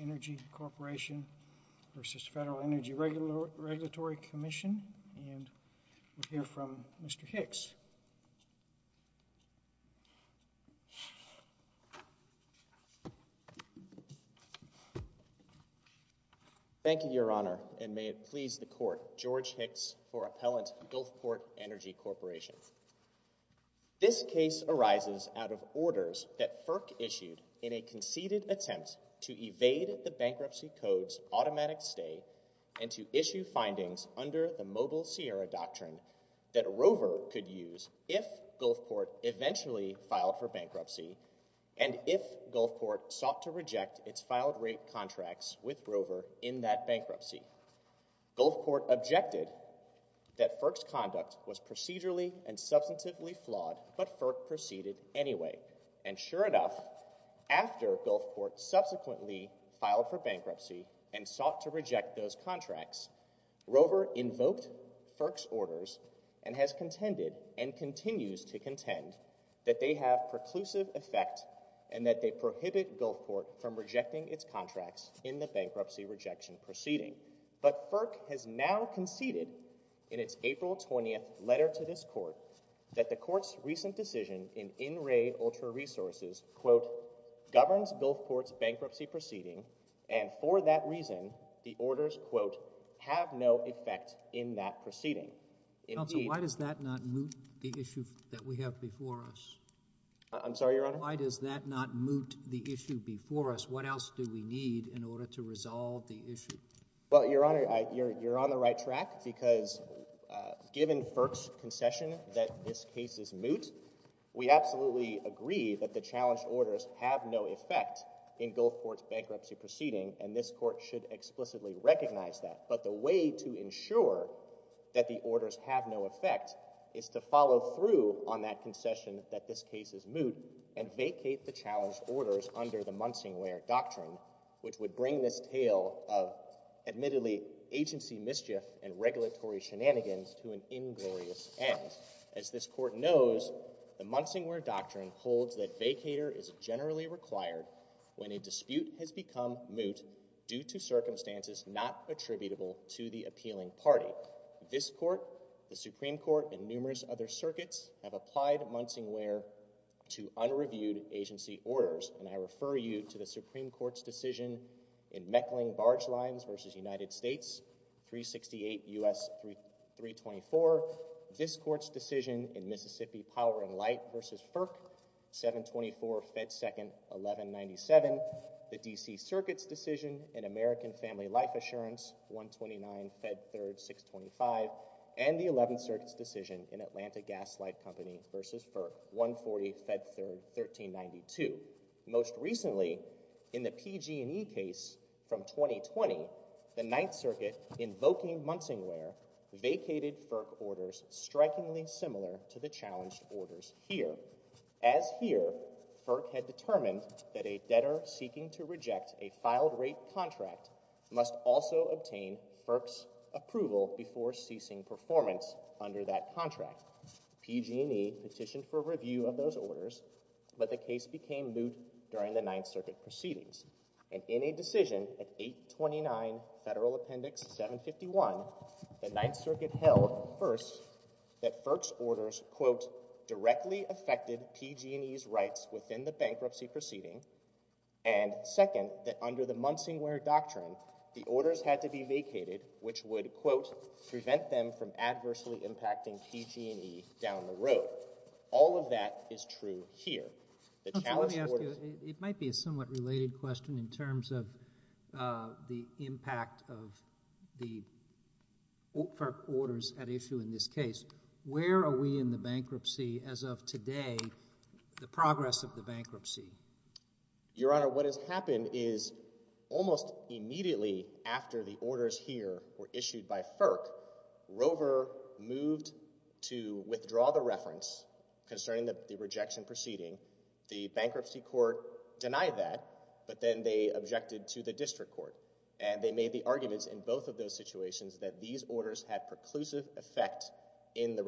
Energy Corporation v. Federal Energy Regulatory Commission, and we'll hear from Mr. Hicks. Thank you, Your Honor, and may it please the Court, George Hicks for Appellant Gulfport Energy Corporation. This case arises out of orders that FERC issued in a conceded attempt to evade the bankruptcy code's automatic stay and to issue findings under the Mobile Sierra Doctrine that Rover could use if Gulfport eventually filed for bankruptcy and if Gulfport sought to reject its filed rate contracts with Rover in that bankruptcy. Gulfport objected that FERC's conduct was procedurally and substantively flawed, but FERC proceeded anyway, and sure enough, after Gulfport subsequently filed for bankruptcy and sought to reject those contracts, Rover invoked FERC's orders and has contended and continues to contend that they have preclusive effect and that they prohibit Gulfport from But FERC has now conceded in its April 20th letter to this Court that the Court's recent decision in In Re Ultra Resources, quote, governs Gulfport's bankruptcy proceeding, and for that reason, the orders, quote, have no effect in that proceeding. Counsel, why does that not moot the issue that we have before us? I'm sorry, Your Honor? Why does that not moot the issue before us? What else do we need in order to resolve the issue? Well, Your Honor, you're on the right track because given FERC's concession that this case is moot, we absolutely agree that the challenged orders have no effect in Gulfport's bankruptcy proceeding, and this Court should explicitly recognize that, but the way to ensure that the orders have no effect is to follow through on that concession that this case is moot and vacate the challenged orders under the Munsingware Doctrine, which would bring this of, admittedly, agency mischief and regulatory shenanigans to an inglorious end. As this Court knows, the Munsingware Doctrine holds that vacater is generally required when a dispute has become moot due to circumstances not attributable to the appealing party. This Court, the Supreme Court, and numerous other circuits have applied Munsingware to barge lines versus United States, 368 U.S. 324, this Court's decision in Mississippi Power and Light versus FERC, 724 Fed Second 1197, the D.C. Circuit's decision in American Family Life Assurance, 129 Fed Third 625, and the 11th Circuit's decision in Atlanta Gas Light Company versus FERC, 140 Fed Third 1392. Most recently, in the PG&E case from 2020, the 9th Circuit, invoking Munsingware, vacated FERC orders strikingly similar to the challenged orders here. As here, FERC had determined that a debtor seeking to reject a filed rate contract must also obtain FERC's approval before ceasing performance under that contract. PG&E petitioned for review of those orders, but the case became moot during the 9th Circuit proceedings, and in a decision at 829 Federal Appendix 751, the 9th Circuit held, first, that FERC's orders, quote, directly affected PG&E's rights within the bankruptcy proceeding, and second, that under the Munsingware Doctrine, the orders had to be vacated, which would, quote, prevent them from adversely impacting PG&E down the road. All of that is true here. It might be a somewhat related question in terms of the impact of the orders at issue in this case. Where are we in the bankruptcy as of today, the progress of the bankruptcy? Your Honor, what has happened is, almost immediately after the orders here were issued by FERC, Rover moved to withdraw the reference concerning the rejection proceeding. The bankruptcy court denied that, but then they objected to the district court, and they made the arguments in both of those situations that these orders had preclusive effect in the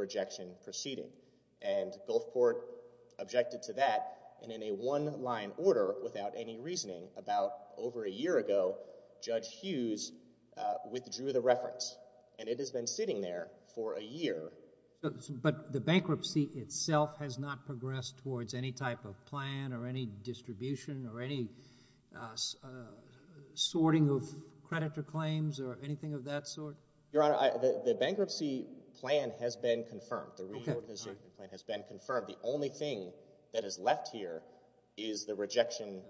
order without any reasoning. About over a year ago, Judge Hughes withdrew the reference, and it has been sitting there for a year. But the bankruptcy itself has not progressed towards any type of plan or any distribution or any sorting of creditor claims or anything of that sort? Your Honor, the bankruptcy plan has been confirmed. The reimbursement plan has been confirmed. The only thing that is left here is the rejection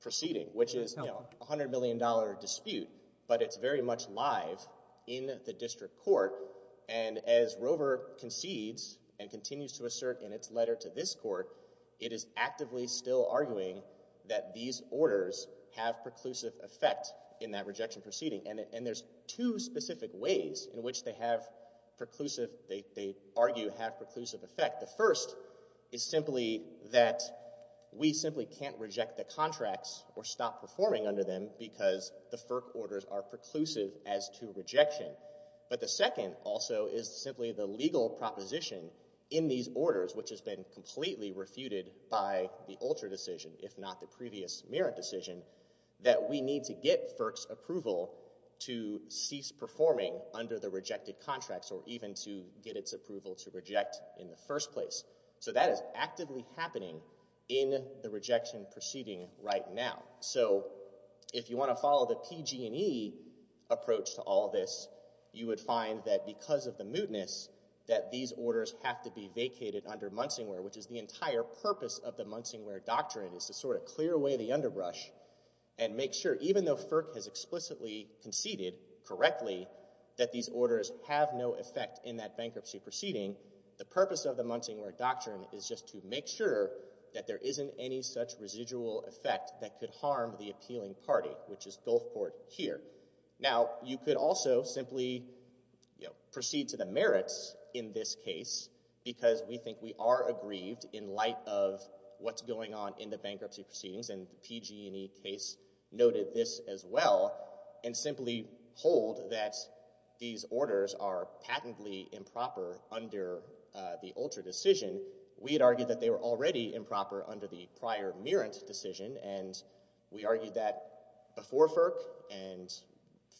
proceeding, which is a $100 million dispute, but it's very much live in the district court. And as Rover concedes and continues to assert in its letter to this court, it is actively still arguing that these orders have preclusive effect in that rejection proceeding. And there's two specific ways in which they have preclusive, they argue have preclusive effect. The first is simply that we simply can't reject the contracts or stop performing under them because the FERC orders are preclusive as to rejection. But the second also is simply the legal proposition in these orders, which has been completely refuted by the Ultra decision, if not the previous Merritt decision, that we need to get FERC's approval to cease performing under the rejected contracts or even to get its So that is actively happening in the rejection proceeding right now. So if you want to follow the PG&E approach to all this, you would find that because of the mootness that these orders have to be vacated under Munsingware, which is the entire purpose of the Munsingware doctrine is to sort of clear away the underbrush and make sure even though FERC has explicitly conceded correctly that these orders have no effect in that bankruptcy proceeding, the purpose of the Munsingware doctrine is just to make sure that there isn't any such residual effect that could harm the appealing party, which is Gulfport here. Now, you could also simply, you know, proceed to the Merritts in this case because we think we are aggrieved in light of what's going on in the bankruptcy proceedings and the PG&E case noted this as well and simply hold that these orders are patently improper under the Ultra decision. We had argued that they were already improper under the prior Merritt decision and we argued that before FERC and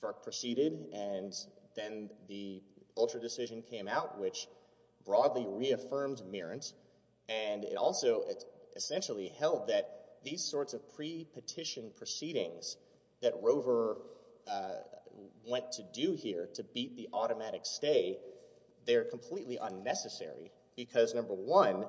FERC proceeded and then the Ultra decision came out, which broadly reaffirmed Merritt and it also essentially held that these sorts of pre-petition proceedings that Rover went to do here to beat the automatic stay, they're completely unnecessary because number one,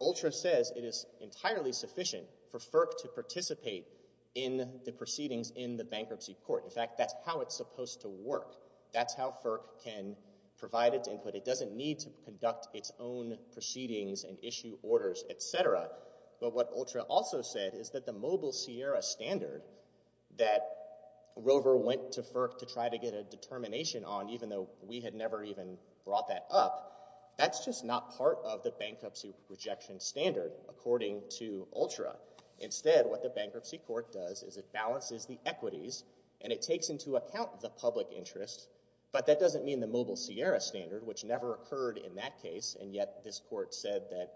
Ultra says it is entirely sufficient for FERC to participate in the proceedings in the bankruptcy court. In fact, that's how it's supposed to work. That's how FERC can provide its input. It doesn't need to conduct its own proceedings and issue orders, et cetera, but what Ultra also said is that the mobile Sierra standard that Rover went to FERC to try to get a determination on, even though we had never even brought that up, that's just not part of the bankruptcy rejection standard according to Ultra. Instead, what the bankruptcy court does is it balances the equities and it takes into account the public interest, but that doesn't mean the mobile Sierra standard, which never occurred in that case and yet this court said that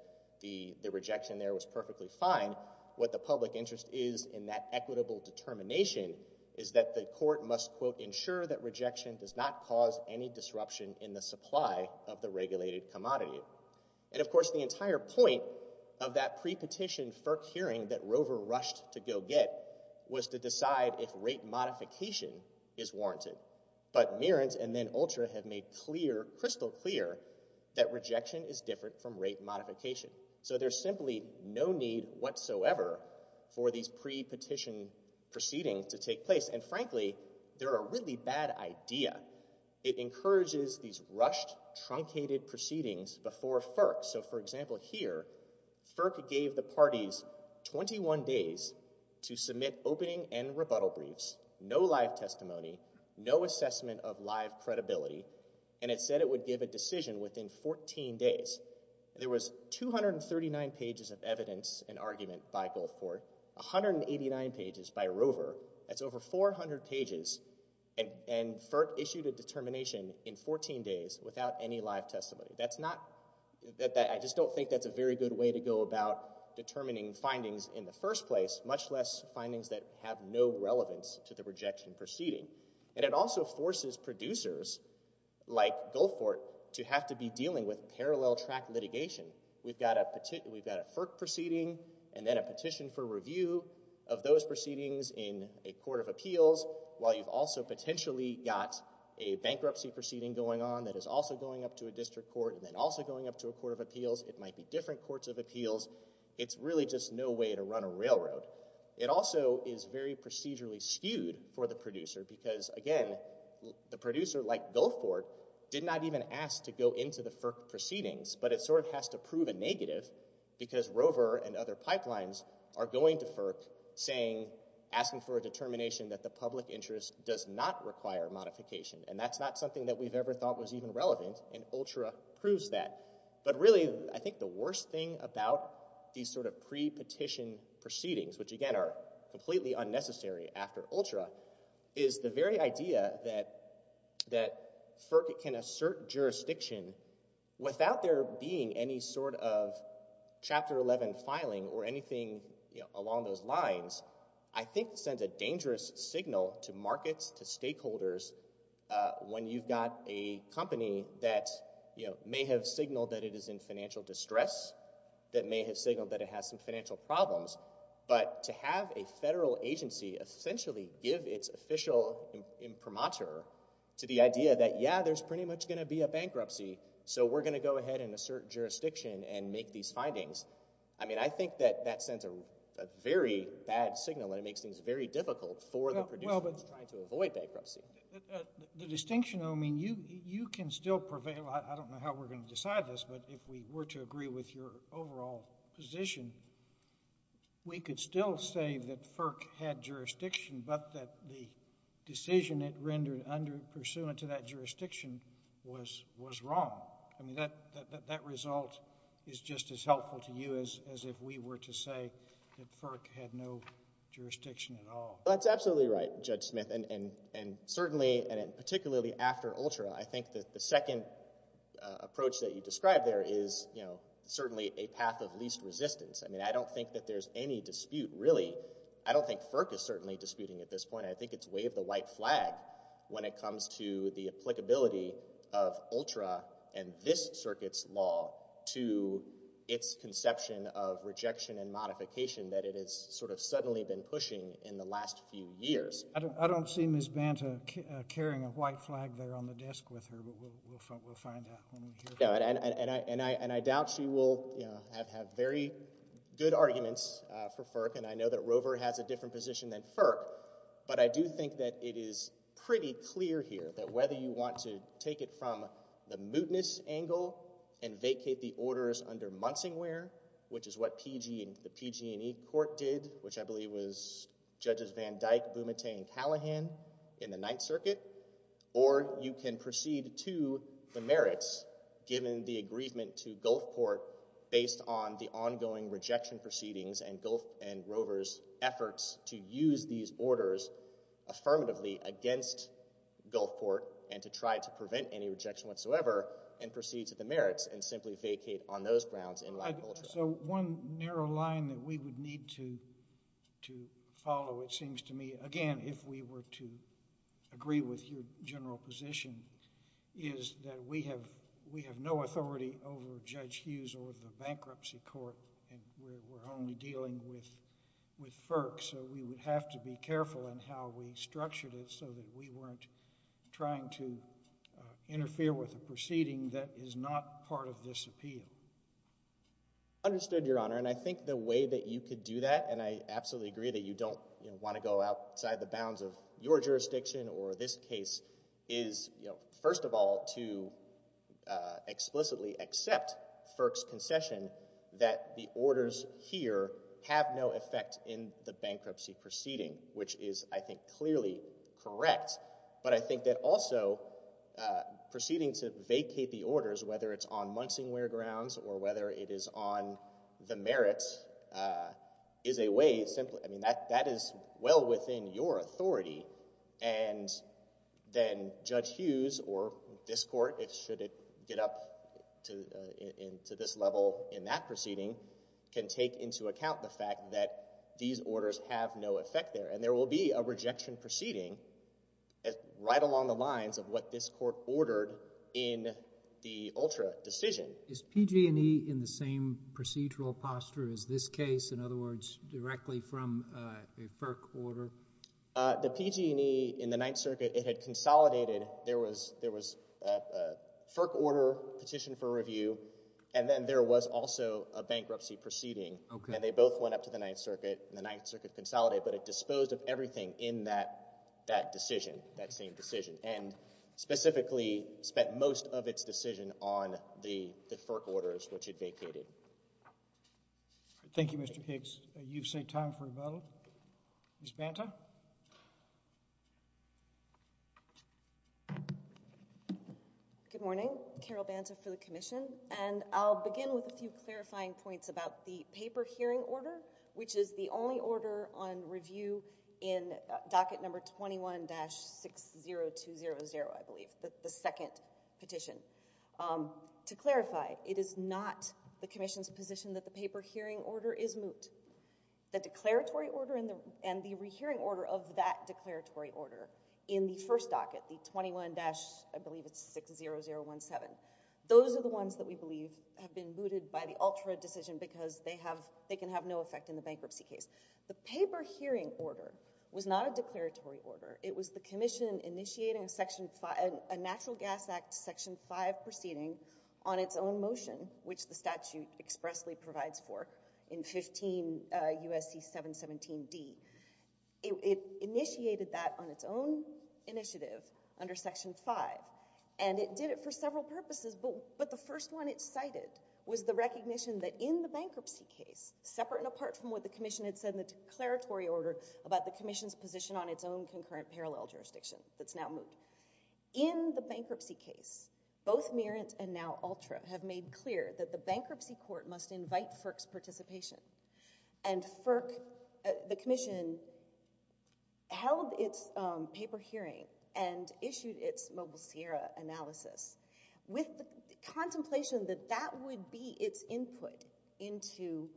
the rejection there was perfectly fine. What the public interest is in that equitable determination is that the court must, quote, ensure that rejection does not cause any disruption in the supply of the regulated commodity. And of course, the entire point of that pre-petition FERC hearing that Rover rushed to go get was to decide if rate modification is warranted. But Merent and then Ultra have made clear, crystal clear, that rejection is different from rate modification. So there's simply no need whatsoever for these pre-petition proceedings to take place. And frankly, they're a really bad idea. It encourages these rushed, truncated proceedings before FERC. So for example here, FERC gave the parties 21 days to submit opening and rebuttal briefs, no live testimony, no assessment of live credibility, and it said it would give a decision within 14 days. There was 239 pages of evidence and argument by Gulfport, 189 pages by Rover, that's over 400 pages, and FERC issued a determination in 14 days without any live testimony. That's not, I just don't think that's a very good way to go about determining findings in the first place, much less findings that have no relevance to the rejection proceeding. And it also forces producers like Gulfport to have to be dealing with parallel track litigation. We've got a FERC proceeding and then a petition for review of those proceedings in a court of appeals, while you've also potentially got a bankruptcy proceeding going on that is also going up to a district court and then also going up to a court of appeals, it might be different courts of appeals, it's really just no way to run a railroad. It also is very procedurally skewed for the producer, because again, the producer like Gulfport did not even ask to go into the FERC proceedings, but it sort of has to prove a negative because Rover and other pipelines are going to FERC saying, asking for a determination that the public interest does not require modification, and that's not something that we've ever thought was even relevant, and ULTRA proves that. But really, I think the worst thing about these sort of pre-petition proceedings, which again are completely unnecessary after ULTRA, is the very idea that FERC can assert jurisdiction without there being any sort of Chapter 11 filing or anything along those lines, I think sends a dangerous signal to markets, to stakeholders, when you've got a company that may have signaled that it is in financial distress, that may have signaled that it has some financial problems, but to have a federal agency essentially give its official imprimatur to the idea that yeah, there's pretty much going to be a bankruptcy, so we're going to go ahead and assert jurisdiction and make these findings, I mean, I think that that sends a very bad signal and it makes things very difficult for the producer who's trying to avoid bankruptcy. The distinction, I mean, you can still prevail, I don't know how we're going to decide this, but if we were to agree with your overall position, we could still say that FERC had jurisdiction but that the decision it rendered under, pursuant to that jurisdiction, was wrong. I mean, that result is just as helpful to you as if we were to say that FERC had no jurisdiction at all. That's absolutely right, Judge Smith, and certainly, and particularly after ULTRA, I think that the second approach that you describe there is, you know, certainly a path of least resistance. I mean, I don't think that there's any dispute, really. I don't think FERC is certainly disputing at this point. I think it's waived the white flag when it comes to the applicability of ULTRA and this circuit's law to its conception of rejection and modification that it has sort of suddenly been pushing in the last few years. I don't see Ms. Banta carrying a white flag there on the desk with her, but we'll find out when we hear from her. And I doubt she will, you know, have very good arguments for FERC, and I know that Rover has a different position than FERC, but I do think that it is pretty clear here that whether you want to take it from the mootness angle and vacate the orders under Munsingware, which is what the PG&E court did, which I believe was Judges Van Dyke, Bumate, and Callahan in the Ninth Circuit, or you can proceed to the merits given the agreement to Gulfport based on the ongoing rejection proceedings and Rover's efforts to use these orders affirmatively against Gulfport and to try to prevent any rejection whatsoever and proceed to the merits and simply vacate on those grounds in light of ULTRA. So one narrow line that we would need to follow, it seems to me, again, if we were to agree with your general position, is that we have no authority over Judge Hughes or the bankruptcy court, and we're only dealing with FERC, so we would have to be careful in how we structured it so that we weren't trying to interfere with a proceeding that is not part of this appeal. I understood, Your Honor, and I think the way that you could do that, and I absolutely agree that you don't want to go outside the bounds of your jurisdiction or this case, is first of all to explicitly accept FERC's concession that the orders here have no effect in the bankruptcy proceeding, which is, I think, clearly correct, but I think that also proceeding to vacate the orders, whether it's on Munsingware grounds or whether it is on the merits, is a way, simply, I mean, that is well within your authority, and then Judge Hughes or this court, should it get up to this level in that proceeding, can take into account the fact that these orders have no effect there, and there will be a rejection proceeding right along the lines of what this court ordered in the ULTRA decision. Is PG&E in the same procedural posture as this case, in other words, directly from a FERC order? The PG&E in the Ninth Circuit, it had consolidated, there was a FERC order petitioned for review, and then there was also a bankruptcy proceeding, and they both went up to the Ninth Circuit, and the Ninth Circuit consolidated, but it disposed of everything in that decision, that this decision on the FERC orders, which it vacated. Thank you, Mr. Higgs. You've saved time for a vote. Ms. Banta? Good morning. Carol Banta for the Commission, and I'll begin with a few clarifying points about the paper hearing order, which is the only order on review in docket number 21-60200, I believe, the second petition. To clarify, it is not the Commission's position that the paper hearing order is moot. The declaratory order and the rehearing order of that declaratory order in the first docket, the 21-60017, those are the ones that we believe have been mooted by the ULTRA decision because they can have no effect in the bankruptcy case. The paper hearing order was not a declaratory order. It was the Commission initiating a Natural Gas Act Section 5 proceeding on its own motion, which the statute expressly provides for in 15 U.S.C. 717d. It initiated that on its own initiative under Section 5, and it did it for several purposes, but the first one it cited was the recognition that in the bankruptcy case, separate and apart from what the Commission had said in the declaratory order about the Commission's position on its own concurrent parallel jurisdiction that's now moot. In the bankruptcy case, both Merit and now ULTRA have made clear that the bankruptcy court must invite FERC's participation, and FERC, the Commission, held its paper hearing and issued its Mobile Sierra analysis with the contemplation that that would be its input into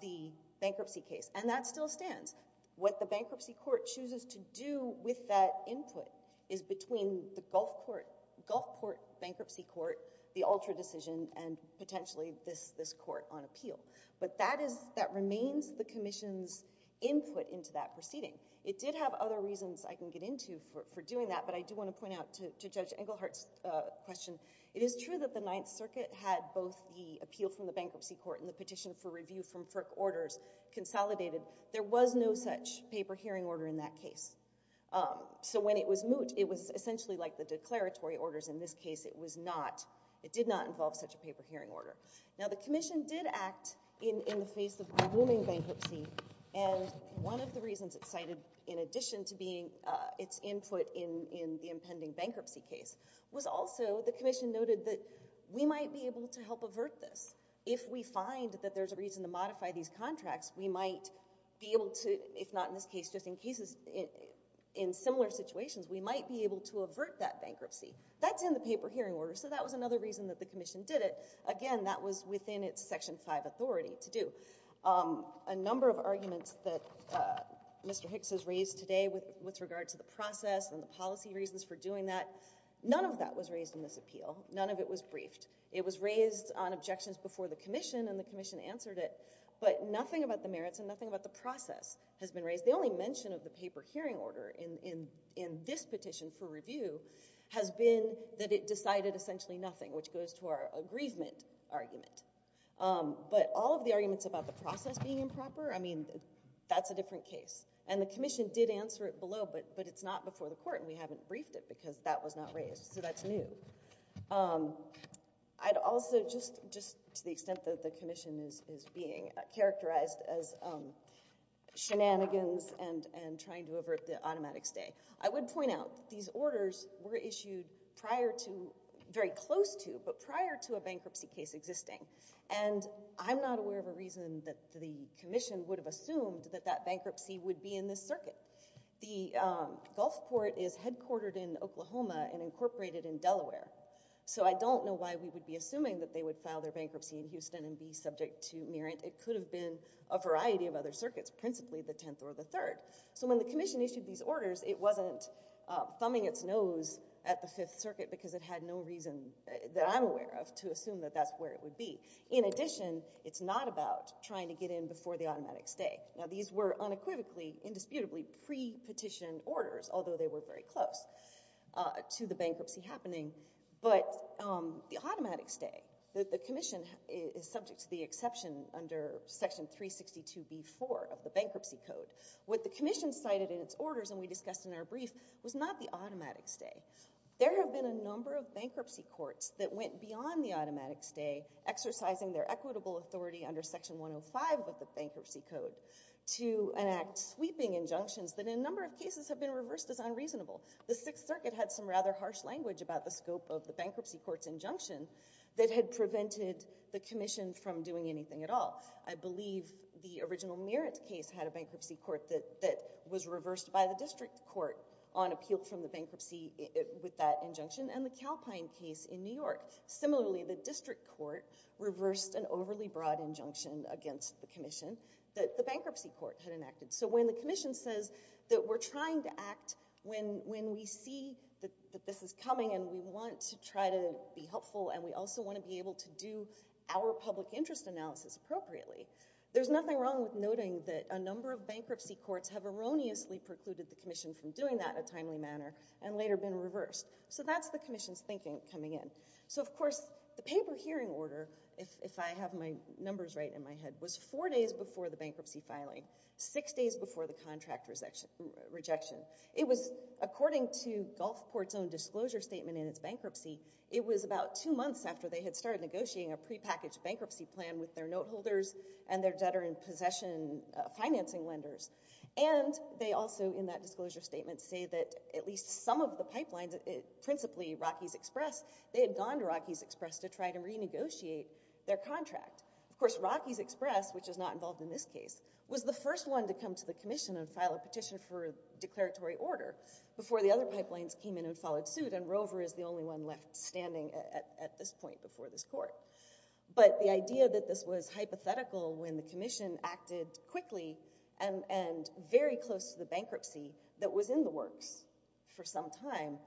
the bankruptcy case, and that still stands. What the bankruptcy court chooses to do with that input is between the Gulfport Bankruptcy Court, the ULTRA decision, and potentially this court on appeal. But that remains the Commission's input into that proceeding. It did have other reasons I can get into for doing that, but I do want to point out to Judge Englehart's question, it is true that the Ninth Circuit had both the appeal from the bankruptcy court and the petition for review from FERC orders consolidated. There was no such paper hearing order in that case. So when it was moot, it was essentially like the declaratory orders in this case. It was not, it did not involve such a paper hearing order. Now, the Commission did act in the face of a looming bankruptcy, and one of the reasons it cited in addition to being its input in the impending bankruptcy case was also the Commission noted that we might be able to help avert this. If we find that there's a reason to modify these contracts, we might be able to, if not in this case, just in cases, in similar situations, we might be able to avert that bankruptcy. That's in the paper hearing order, so that was another reason that the Commission did it. Again, that was within its Section 5 authority to do. A number of arguments that Mr. Hicks has raised today with regard to the process and the policy reasons for doing that, none of that was raised in this appeal. None of it was briefed. It was raised on objections before the Commission, and the Commission answered it, but nothing about the merits and nothing about the process has been raised. The only mention of the paper hearing order in this petition for review has been that it decided essentially nothing, which goes to our aggrievement argument, but all of the arguments about the process being improper, I mean, that's a different case. And the Commission did answer it below, but it's not before the Court, and we haven't raised it, so that's new. I'd also, just to the extent that the Commission is being characterized as shenanigans and trying to avert the automatic stay, I would point out that these orders were issued prior to, very close to, but prior to a bankruptcy case existing, and I'm not aware of a reason that the Commission would have assumed that that bankruptcy would be in this circuit. The Gulf Court is headquartered in Oklahoma and incorporated in Delaware, so I don't know why we would be assuming that they would file their bankruptcy in Houston and be subject to merit. It could have been a variety of other circuits, principally the 10th or the 3rd. So when the Commission issued these orders, it wasn't thumbing its nose at the 5th Circuit because it had no reason that I'm aware of to assume that that's where it would be. In addition, it's not about trying to get in before the automatic stay. Now, these were unequivocally, indisputably pre-petitioned orders, although they were very close to the bankruptcy happening, but the automatic stay, the Commission is subject to the exception under Section 362b-4 of the Bankruptcy Code. What the Commission cited in its orders, and we discussed in our brief, was not the automatic stay. There have been a number of bankruptcy courts that went beyond the automatic stay, exercising their equitable authority under Section 105 of the Bankruptcy Code, to enact sweeping injunctions that in a number of cases have been reversed as unreasonable. The 6th Circuit had some rather harsh language about the scope of the bankruptcy court's injunction that had prevented the Commission from doing anything at all. I believe the original merit case had a bankruptcy court that was reversed by the district court on appeal from the bankruptcy with that injunction, and the Calpine case in New York. Similarly, the district court reversed an overly broad injunction against the Commission that the bankruptcy court had enacted. So when the Commission says that we're trying to act when we see that this is coming and we want to try to be helpful and we also want to be able to do our public interest analysis appropriately, there's nothing wrong with noting that a number of bankruptcy courts have erroneously precluded the Commission from doing that in a timely manner and later been reversed. So that's the Commission's thinking coming in. So of course, the paper hearing order, if I have my numbers right in my head, was four days before the bankruptcy filing, six days before the contract rejection. It was, according to Gulfport's own disclosure statement in its bankruptcy, it was about two months after they had started negotiating a prepackaged bankruptcy plan with their noteholders and their debtor-in-possession financing lenders. And they also, in that disclosure statement, say that at least some of the pipelines, principally Rockies Express, they had gone to Rockies Express to try to renegotiate their contract. Of course, Rockies Express, which is not involved in this case, was the first one to come to the Commission and file a petition for a declaratory order before the other pipelines came in and followed suit, and Rover is the only one left standing at this point before this court. But the idea that this was hypothetical when the Commission acted quickly and very close to the bankruptcy that was in the works for some time,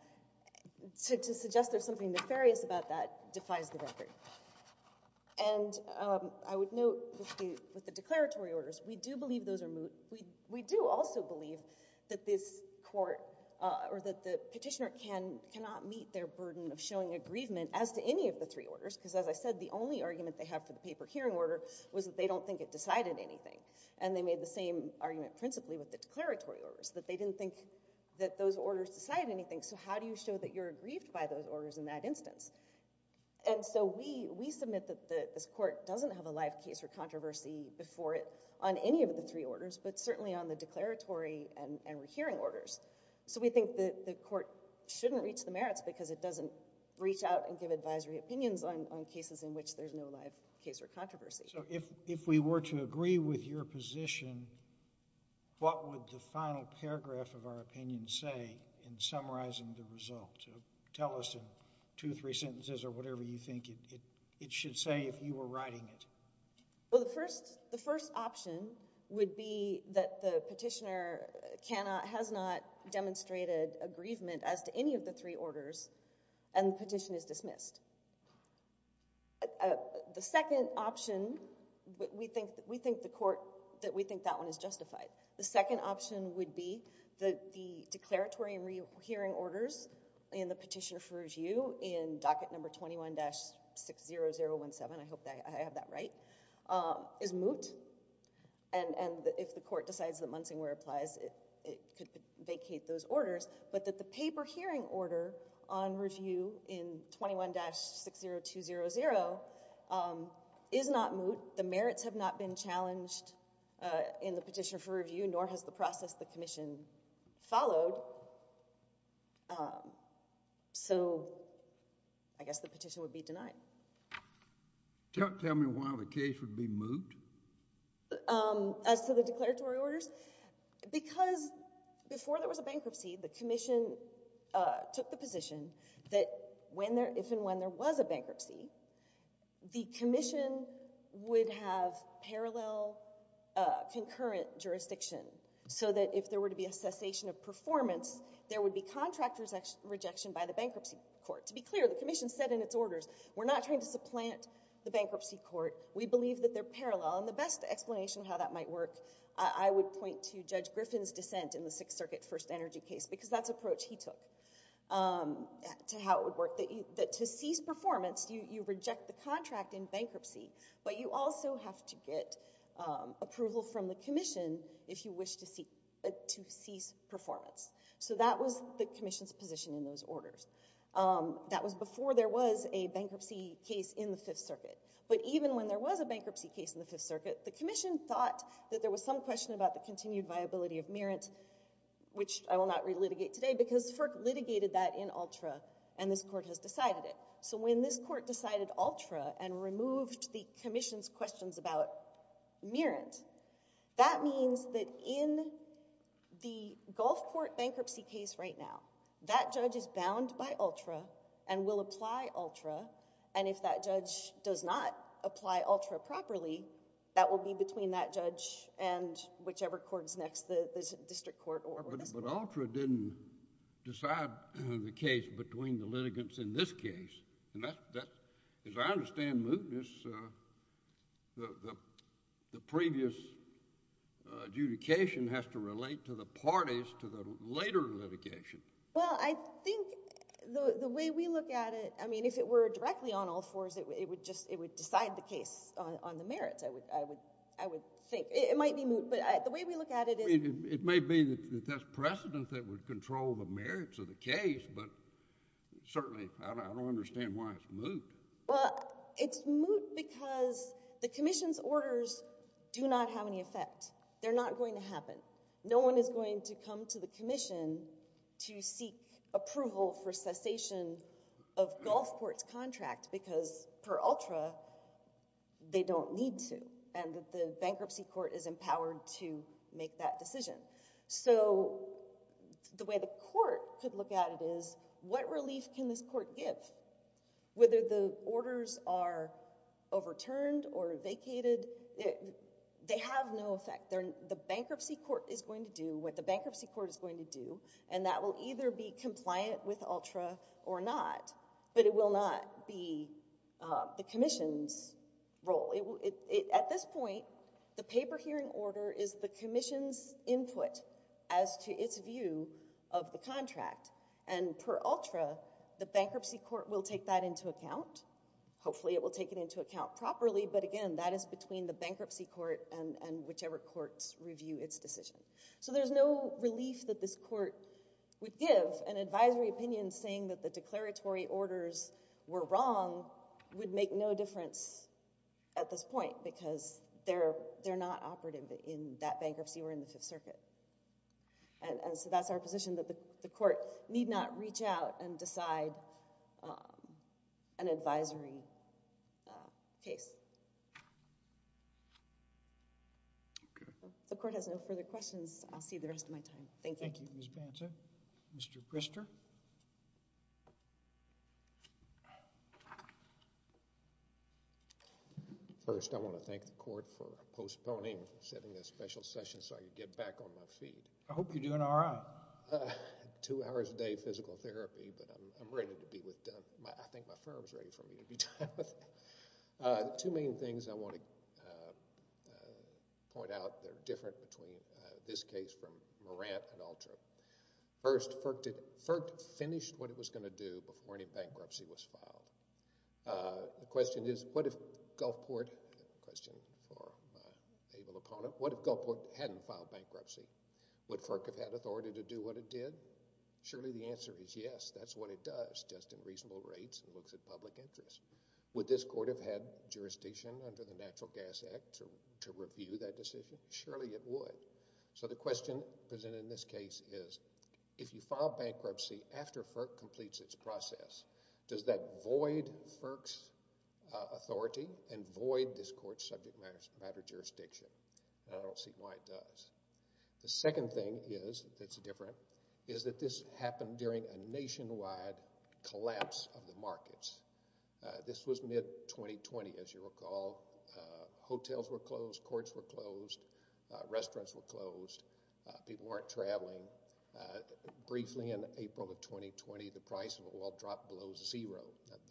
to suggest there's something nefarious about that defies the record. And I would note with the declaratory orders, we do believe those are moot. We do also believe that this court or that the petitioner cannot meet their burden of showing aggrievement as to any of the three orders, because as I said, the only argument they have for the paper hearing order was that they don't think it decided anything. And they made the same argument principally with the declaratory orders, that they didn't think that those orders decided anything, so how do you show that you're aggrieved by those orders in that instance? And so we submit that this court doesn't have a live case or controversy before it on any of the three orders, but certainly on the declaratory and rehearing orders. So we think that the court shouldn't reach the merits because it doesn't reach out and give advisory opinions on cases in which there's no live case or controversy. So if we were to agree with your position, what would the final paragraph of our opinion say in summarizing the result? Tell us in two or three sentences or whatever you think it should say if you were writing it. Well, the first option would be that the petitioner has not demonstrated aggrievement as to any of the three orders, and the petition is dismissed. The second option, we think the court, that we think that one is justified. The second option would be that the declaratory and rehearing orders in the petition for review in docket number 21-60017, I hope that I have that right, is moot, and if the court decides that Munsingwear applies, it could vacate those orders, but that the paper hearing order on review in 21-60200 is not moot. The merits have not been challenged in the petition for review, nor has the process the commission followed, so I guess the petition would be denied. Tell me why the case would be moot? As to the declaratory orders? Because before there was a bankruptcy, the commission took the position that if and when there was a bankruptcy, the commission would have parallel concurrent jurisdiction so that if there were to be a cessation of performance, there would be contract rejection by the bankruptcy court. To be clear, the commission said in its orders, we're not trying to supplant the bankruptcy court. We believe that they're parallel, and the best explanation how that might work, I would point to Judge Griffin's dissent in the Sixth Circuit first energy case, because that's approach he took to how it would work, that to cease performance, you reject the contract in bankruptcy, but you also have to get approval from the commission if you wish to cease performance, so that was the commission's position in those orders. That was before there was a bankruptcy case in the Fifth Circuit, but even when there was a bankruptcy case in the Fifth Circuit, the commission thought that there was some question about the continued viability of merit, which I will not relitigate today, because FERC litigated that in ULTRA, and this court has decided it. So when this court decided ULTRA and removed the commission's questions about merit, that means that in the Gulfport bankruptcy case right now, that judge is bound by ULTRA and will apply ULTRA, and if that judge does not apply ULTRA properly, that will be between that judge and whichever court is next, the district court or... But ULTRA didn't decide the case between the litigants in this case, and as I understand mootness, the previous adjudication has to relate to the parties to the later litigation. Well, I think the way we look at it, I mean, if it were directly on all fours, it would decide the case on the merits, I would think. It might be moot, but the way we look at it... I mean, it may be that that's precedent that would control the merits of the case, but certainly, I don't understand why it's moot. Well, it's moot because the commission's orders do not have any effect. They're not going to happen. No one is going to come to the commission to seek approval for cessation of Gulfport's contract because per ULTRA, they don't need to, and that the bankruptcy court is empowered to make that decision. So, the way the court could look at it is, what relief can this court give? Whether the orders are overturned or vacated, they have no effect. The bankruptcy court is going to do what the bankruptcy court is going to do, and that will either be compliant with ULTRA or not, but it will not be the commission's role. At this point, the paper hearing order is the commission's input as to its view of the contract, and per ULTRA, the bankruptcy court will take that into account. Hopefully, it will take it into account properly, but again, that is between the bankruptcy court and whichever courts review its decision. So, there's no relief that this court would give an advisory opinion saying that the declaratory orders were wrong would make no difference at this point because they're not operative in that bankruptcy or in the Fifth Circuit. And so, that's our position that the court need not reach out and decide an advisory case. The court has no further questions. I'll see the rest of my time. Thank you. Thank you, Ms. Banta. Mr. Grister? First, I want to thank the court for postponing, for setting this special session so I could get back on my feet. I hope you're doing all right. Two hours a day physical therapy, but I'm ready to be with... I think my firm's ready for me to be done with it. Two main things I want to point out that are different between this case from Morant and ULTRA. First, FERC finished what it was going to do before any bankruptcy was filed. The question is, what if Gulfport... Question for my able opponent. What if Gulfport hadn't filed bankruptcy? Would FERC have had authority to do what it did? Surely, the answer is yes, that's what it does, just in reasonable rates and looks at public interest. Would this court have had jurisdiction under the Natural Gas Act to review that decision? Surely, it would. So, the question presented in this case is, if you file bankruptcy after FERC completes its process, does that void FERC's authority and void this court's subject matter jurisdiction? I don't see why it does. The second thing is, that's different, is that this happened during a nationwide collapse of the markets. This was mid-2020, as you recall. Hotels were closed, courts were closed, restaurants were closed, people weren't traveling. Briefly in April of 2020, the price of oil dropped below zero.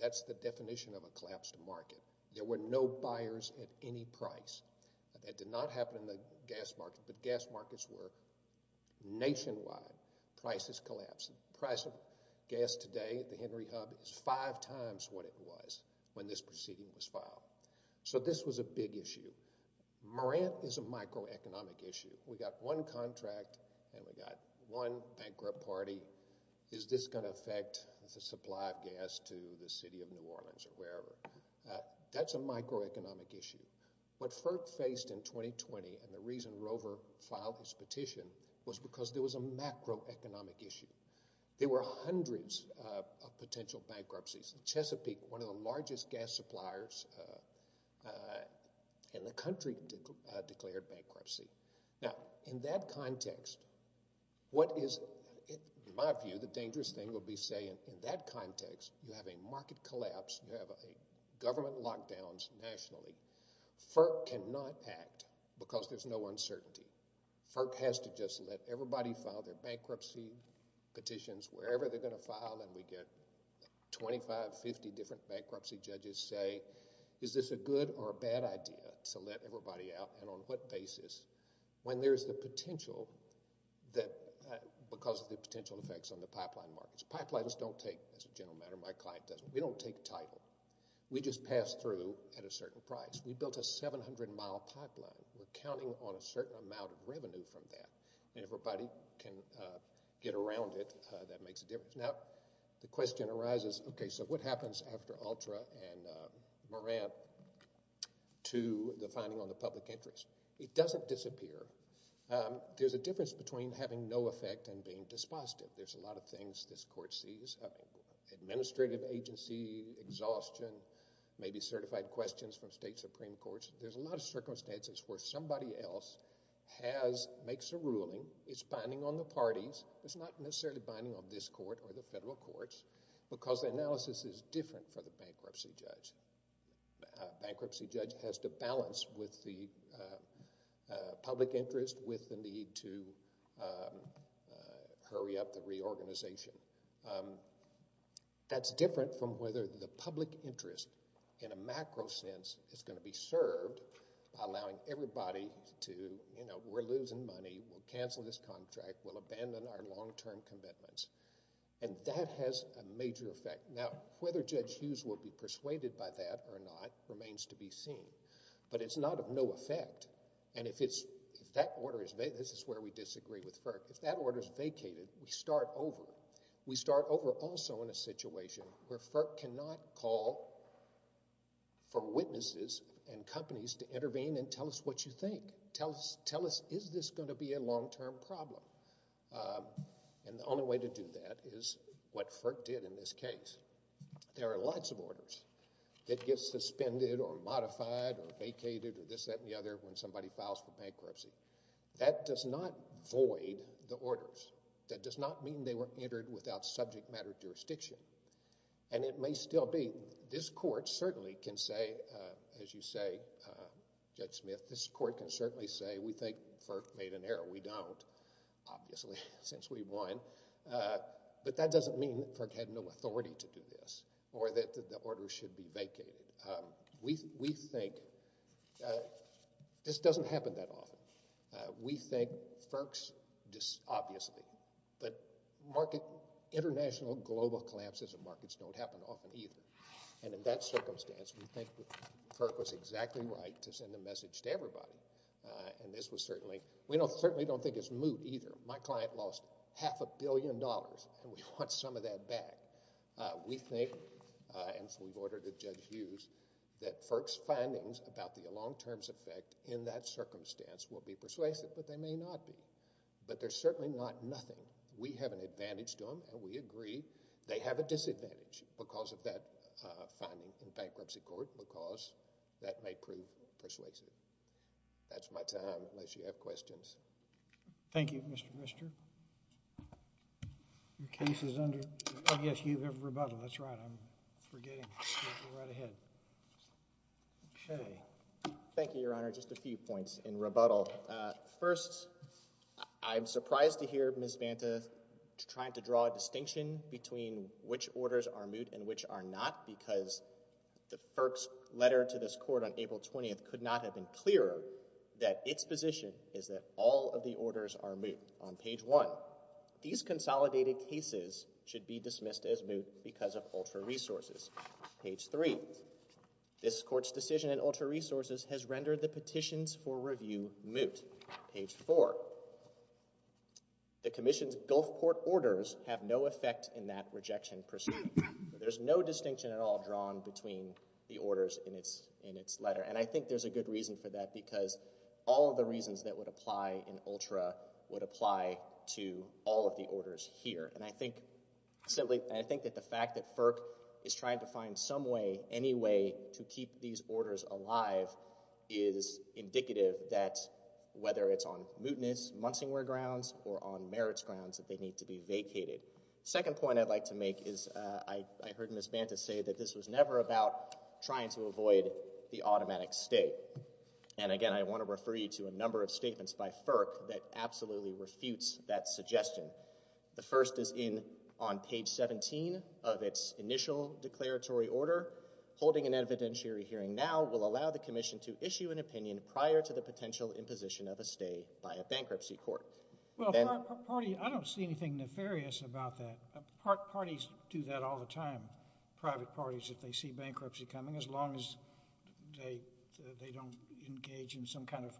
That's the definition of a collapsed market. There were no buyers at any price. That did not happen in the gas market, but gas markets were nationwide. Prices collapsed. Price of gas today at the Henry Hub is five times what it was when this proceeding was filed. So, this was a big issue. Morant is a microeconomic issue. We got one contract, and we got one bankrupt party. Is this going to affect the supply of gas to the city of New Orleans or wherever? That's a microeconomic issue. What FERC faced in 2020, and the reason Rover filed this petition, was because there was a macroeconomic issue. There were hundreds of potential bankruptcies. Chesapeake, one of the largest gas suppliers in the country, declared bankruptcy. Now, in that context, what is, in my view, the dangerous thing would be saying, in that context, you have a market collapse, you have government lockdowns nationally. FERC cannot act because there's no uncertainty. FERC has to just let everybody file their bankruptcy petitions, wherever they're going to file, and we get 25, 50 different bankruptcy judges say, is this a good or a bad idea to let everybody out, and on what basis, when there's the potential that, because of the potential effects on the pipeline markets. Pipelines don't take, as a general matter, my client doesn't. We don't take title. We just pass through at a certain price. We built a 700-mile pipeline. We're counting on a certain amount of revenue from that, and everybody can get around it. That makes a difference. Now, the question arises, okay, so what happens after Altra and Morant to the finding on the public interest? It doesn't disappear. There's a difference between having no effect and being dispositive. There's a lot of things this court sees, administrative agency, exhaustion, maybe certified questions from state supreme courts. There's a lot of circumstances where somebody else has, makes a ruling. It's binding on the parties. It's not necessarily binding on this court or the federal courts because the analysis is different for the bankruptcy judge. Bankruptcy judge has to balance with the public interest with the need to hurry up the reorganization. That's different from whether the public interest in a macro sense is going to be served by allowing everybody to, you know, we're losing money. We'll cancel this contract. We'll abandon our long-term commitments, and that has a major effect. Now, whether Judge Hughes will be persuaded by that or not remains to be seen, but it's not of no effect, and if it's, if that order is, this is where we disagree with FERC. If that order is vacated, we start over. We start over also in a situation where FERC cannot call for witnesses and companies to intervene and tell us what you think. Tell us, tell us, is this going to be a long-term problem? And the only way to do that is what FERC did in this case. There are lots of orders that get suspended or modified or vacated or this, that, and the other when somebody files for bankruptcy. That does not void the orders. That does not mean they were entered without subject matter jurisdiction, and it may still be. This Court certainly can say, as you say, Judge Smith, this Court can certainly say we think FERC made an error. We don't, obviously, since we won, but that doesn't mean that FERC had no authority to do this or that the order should be vacated. We, we think, this doesn't happen that often. We think FERC's, obviously, but market, international, global collapses of markets don't happen often either, and in that circumstance, we think FERC was exactly right to send a message to everybody, and this was certainly, we don't, certainly don't think it's moot either. My client lost half a billion dollars, and we want some of that back. We think, and we've ordered it, Judge Hughes, that FERC's findings about the long-term's effect in that circumstance will be persuasive, but they may not be, but they're certainly not nothing. We have an advantage to them, and we agree they have a disadvantage because of that finding in bankruptcy court, because that may prove persuasive. That's my time, unless you have questions. Thank you, Mr. Mister. Your case is under... Oh, yes, you have rebuttal. That's right. I'm forgetting. Go right ahead. Okay, thank you, Your Honor. Just a few points in rebuttal. First, I'm surprised to hear Ms. Banta trying to draw a distinction between which orders are moot and which are not, because the FERC's letter to this court on April 20th could not have been clearer that its position is that all of the orders are moot. On page one, these consolidated cases should be dismissed as moot because of ultra-resources. Page three, this court's decision in ultra-resources has rendered the petitions for review moot. Page four, the commission's Gulfport orders have no effect in that rejection procedure. There's no distinction at all drawn between the orders in its letter, and I think there's a good reason for that, because all of the reasons that would apply in ultra would apply to all of the orders here, and I think, simply, I think that the fact that FERC is trying to find some way, any way, to keep these orders alive is indicative that, whether it's on mootness, Munsingware grounds, or on merits grounds, that they need to be vacated. Second point I'd like to make is I heard Ms. Banta say that this was never about trying to avoid the automatic stay, and again, I want to refer you to a number of statements by FERC that absolutely refutes that suggestion. The first is on page 17 of its initial declaratory order. Holding an evidentiary hearing now will allow the commission to issue an opinion prior to the potential imposition of a stay by a bankruptcy court. Well, I don't see anything nefarious about that. Parties do that all the time, private parties, if they see bankruptcy coming, as long as they don't engage in some kind of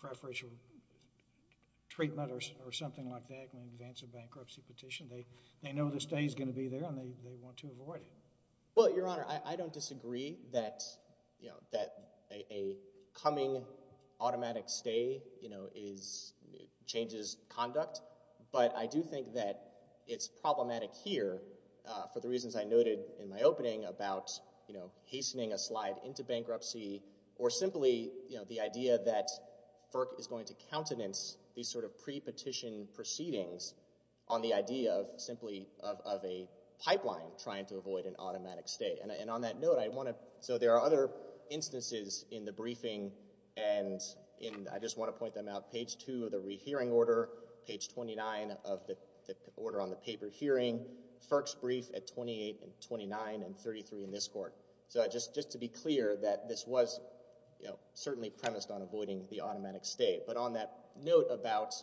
preferential treatment or something like that in advance of bankruptcy petition. They know the stay's going to be there, and they want to avoid it. Well, Your Honor, I don't disagree that a coming automatic stay changes conduct, but I do think that it's problematic here, for the reasons I noted in my opening about hastening a slide into bankruptcy, or simply the idea that FERC is going to countenance these sort of pre-petition proceedings on the idea of simply of a pipeline trying to avoid an automatic stay. And on that note, I want to... So there are other instances in the briefing, and I just want to point them out. Page 2 of the rehearing order, page 29 of the order on the paper hearing, FERC's brief at 28 and 29 and 33 in this court. So just to be clear that this was, you know, certainly premised on avoiding the automatic stay. But on that note about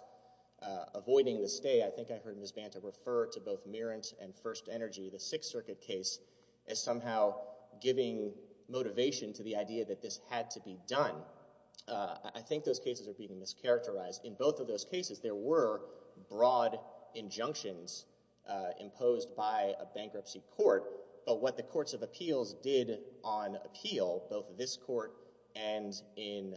avoiding the stay, I think I heard Ms. Banta refer to both Merent and First Energy, the Sixth Circuit case, as somehow giving motivation to the idea that this had to be done. I think those cases are being mischaracterized. In both of those cases, there were broad injunctions imposed by a bankruptcy court, but what the courts of appeals did on appeal, both this court and in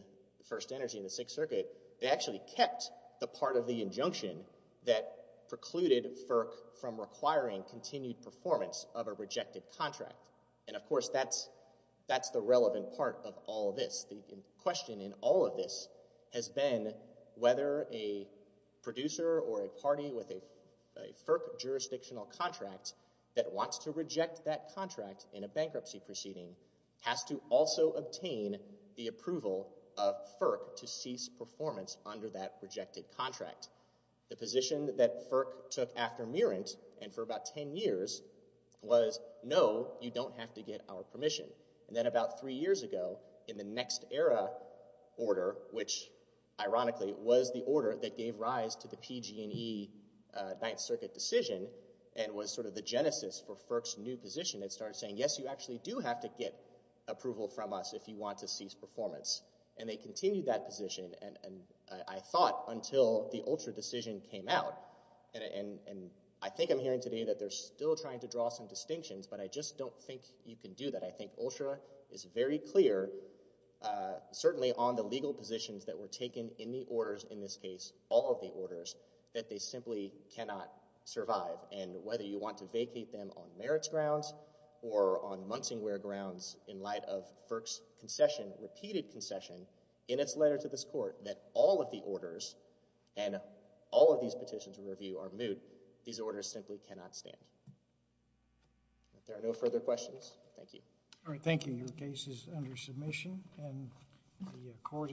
First Energy and the Sixth Circuit, they actually kept the part of the injunction that precluded FERC from requiring continued performance of a rejected contract. And of course, that's the relevant part of all this. The question in all of this has been whether a producer or a party with a FERC jurisdictional contract that wants to reject that contract in a bankruptcy proceeding has to also obtain the approval of FERC to cease performance under that rejected contract. The position that FERC took after Merent and for about 10 years was, no, you don't have to get our permission. And then about three years ago, in the Next Era order, which ironically was the order that gave rise to the PG&E Ninth Circuit decision and was sort of the genesis for FERC's new position, it started saying, yes, you actually do have to get approval from us if you want to cease performance. And they continued that position. And I thought until the ULTRA decision came out, and I think I'm hearing today that they're still trying to draw some distinctions, but I just don't think you can do that. I think ULTRA is very clear, certainly on the legal positions that were taken in the orders, in this case, all of the orders, that they simply cannot survive. And whether you want to vacate them on Merit's grounds or on Munsingwear grounds in light of FERC's concession, repeated concession, in its letter to this court, that all of the orders and all of these petitions in review are moot. These orders simply cannot stand. There are no further questions. Thank you. All right. Thank you. Your case is under submission and the court is in recess.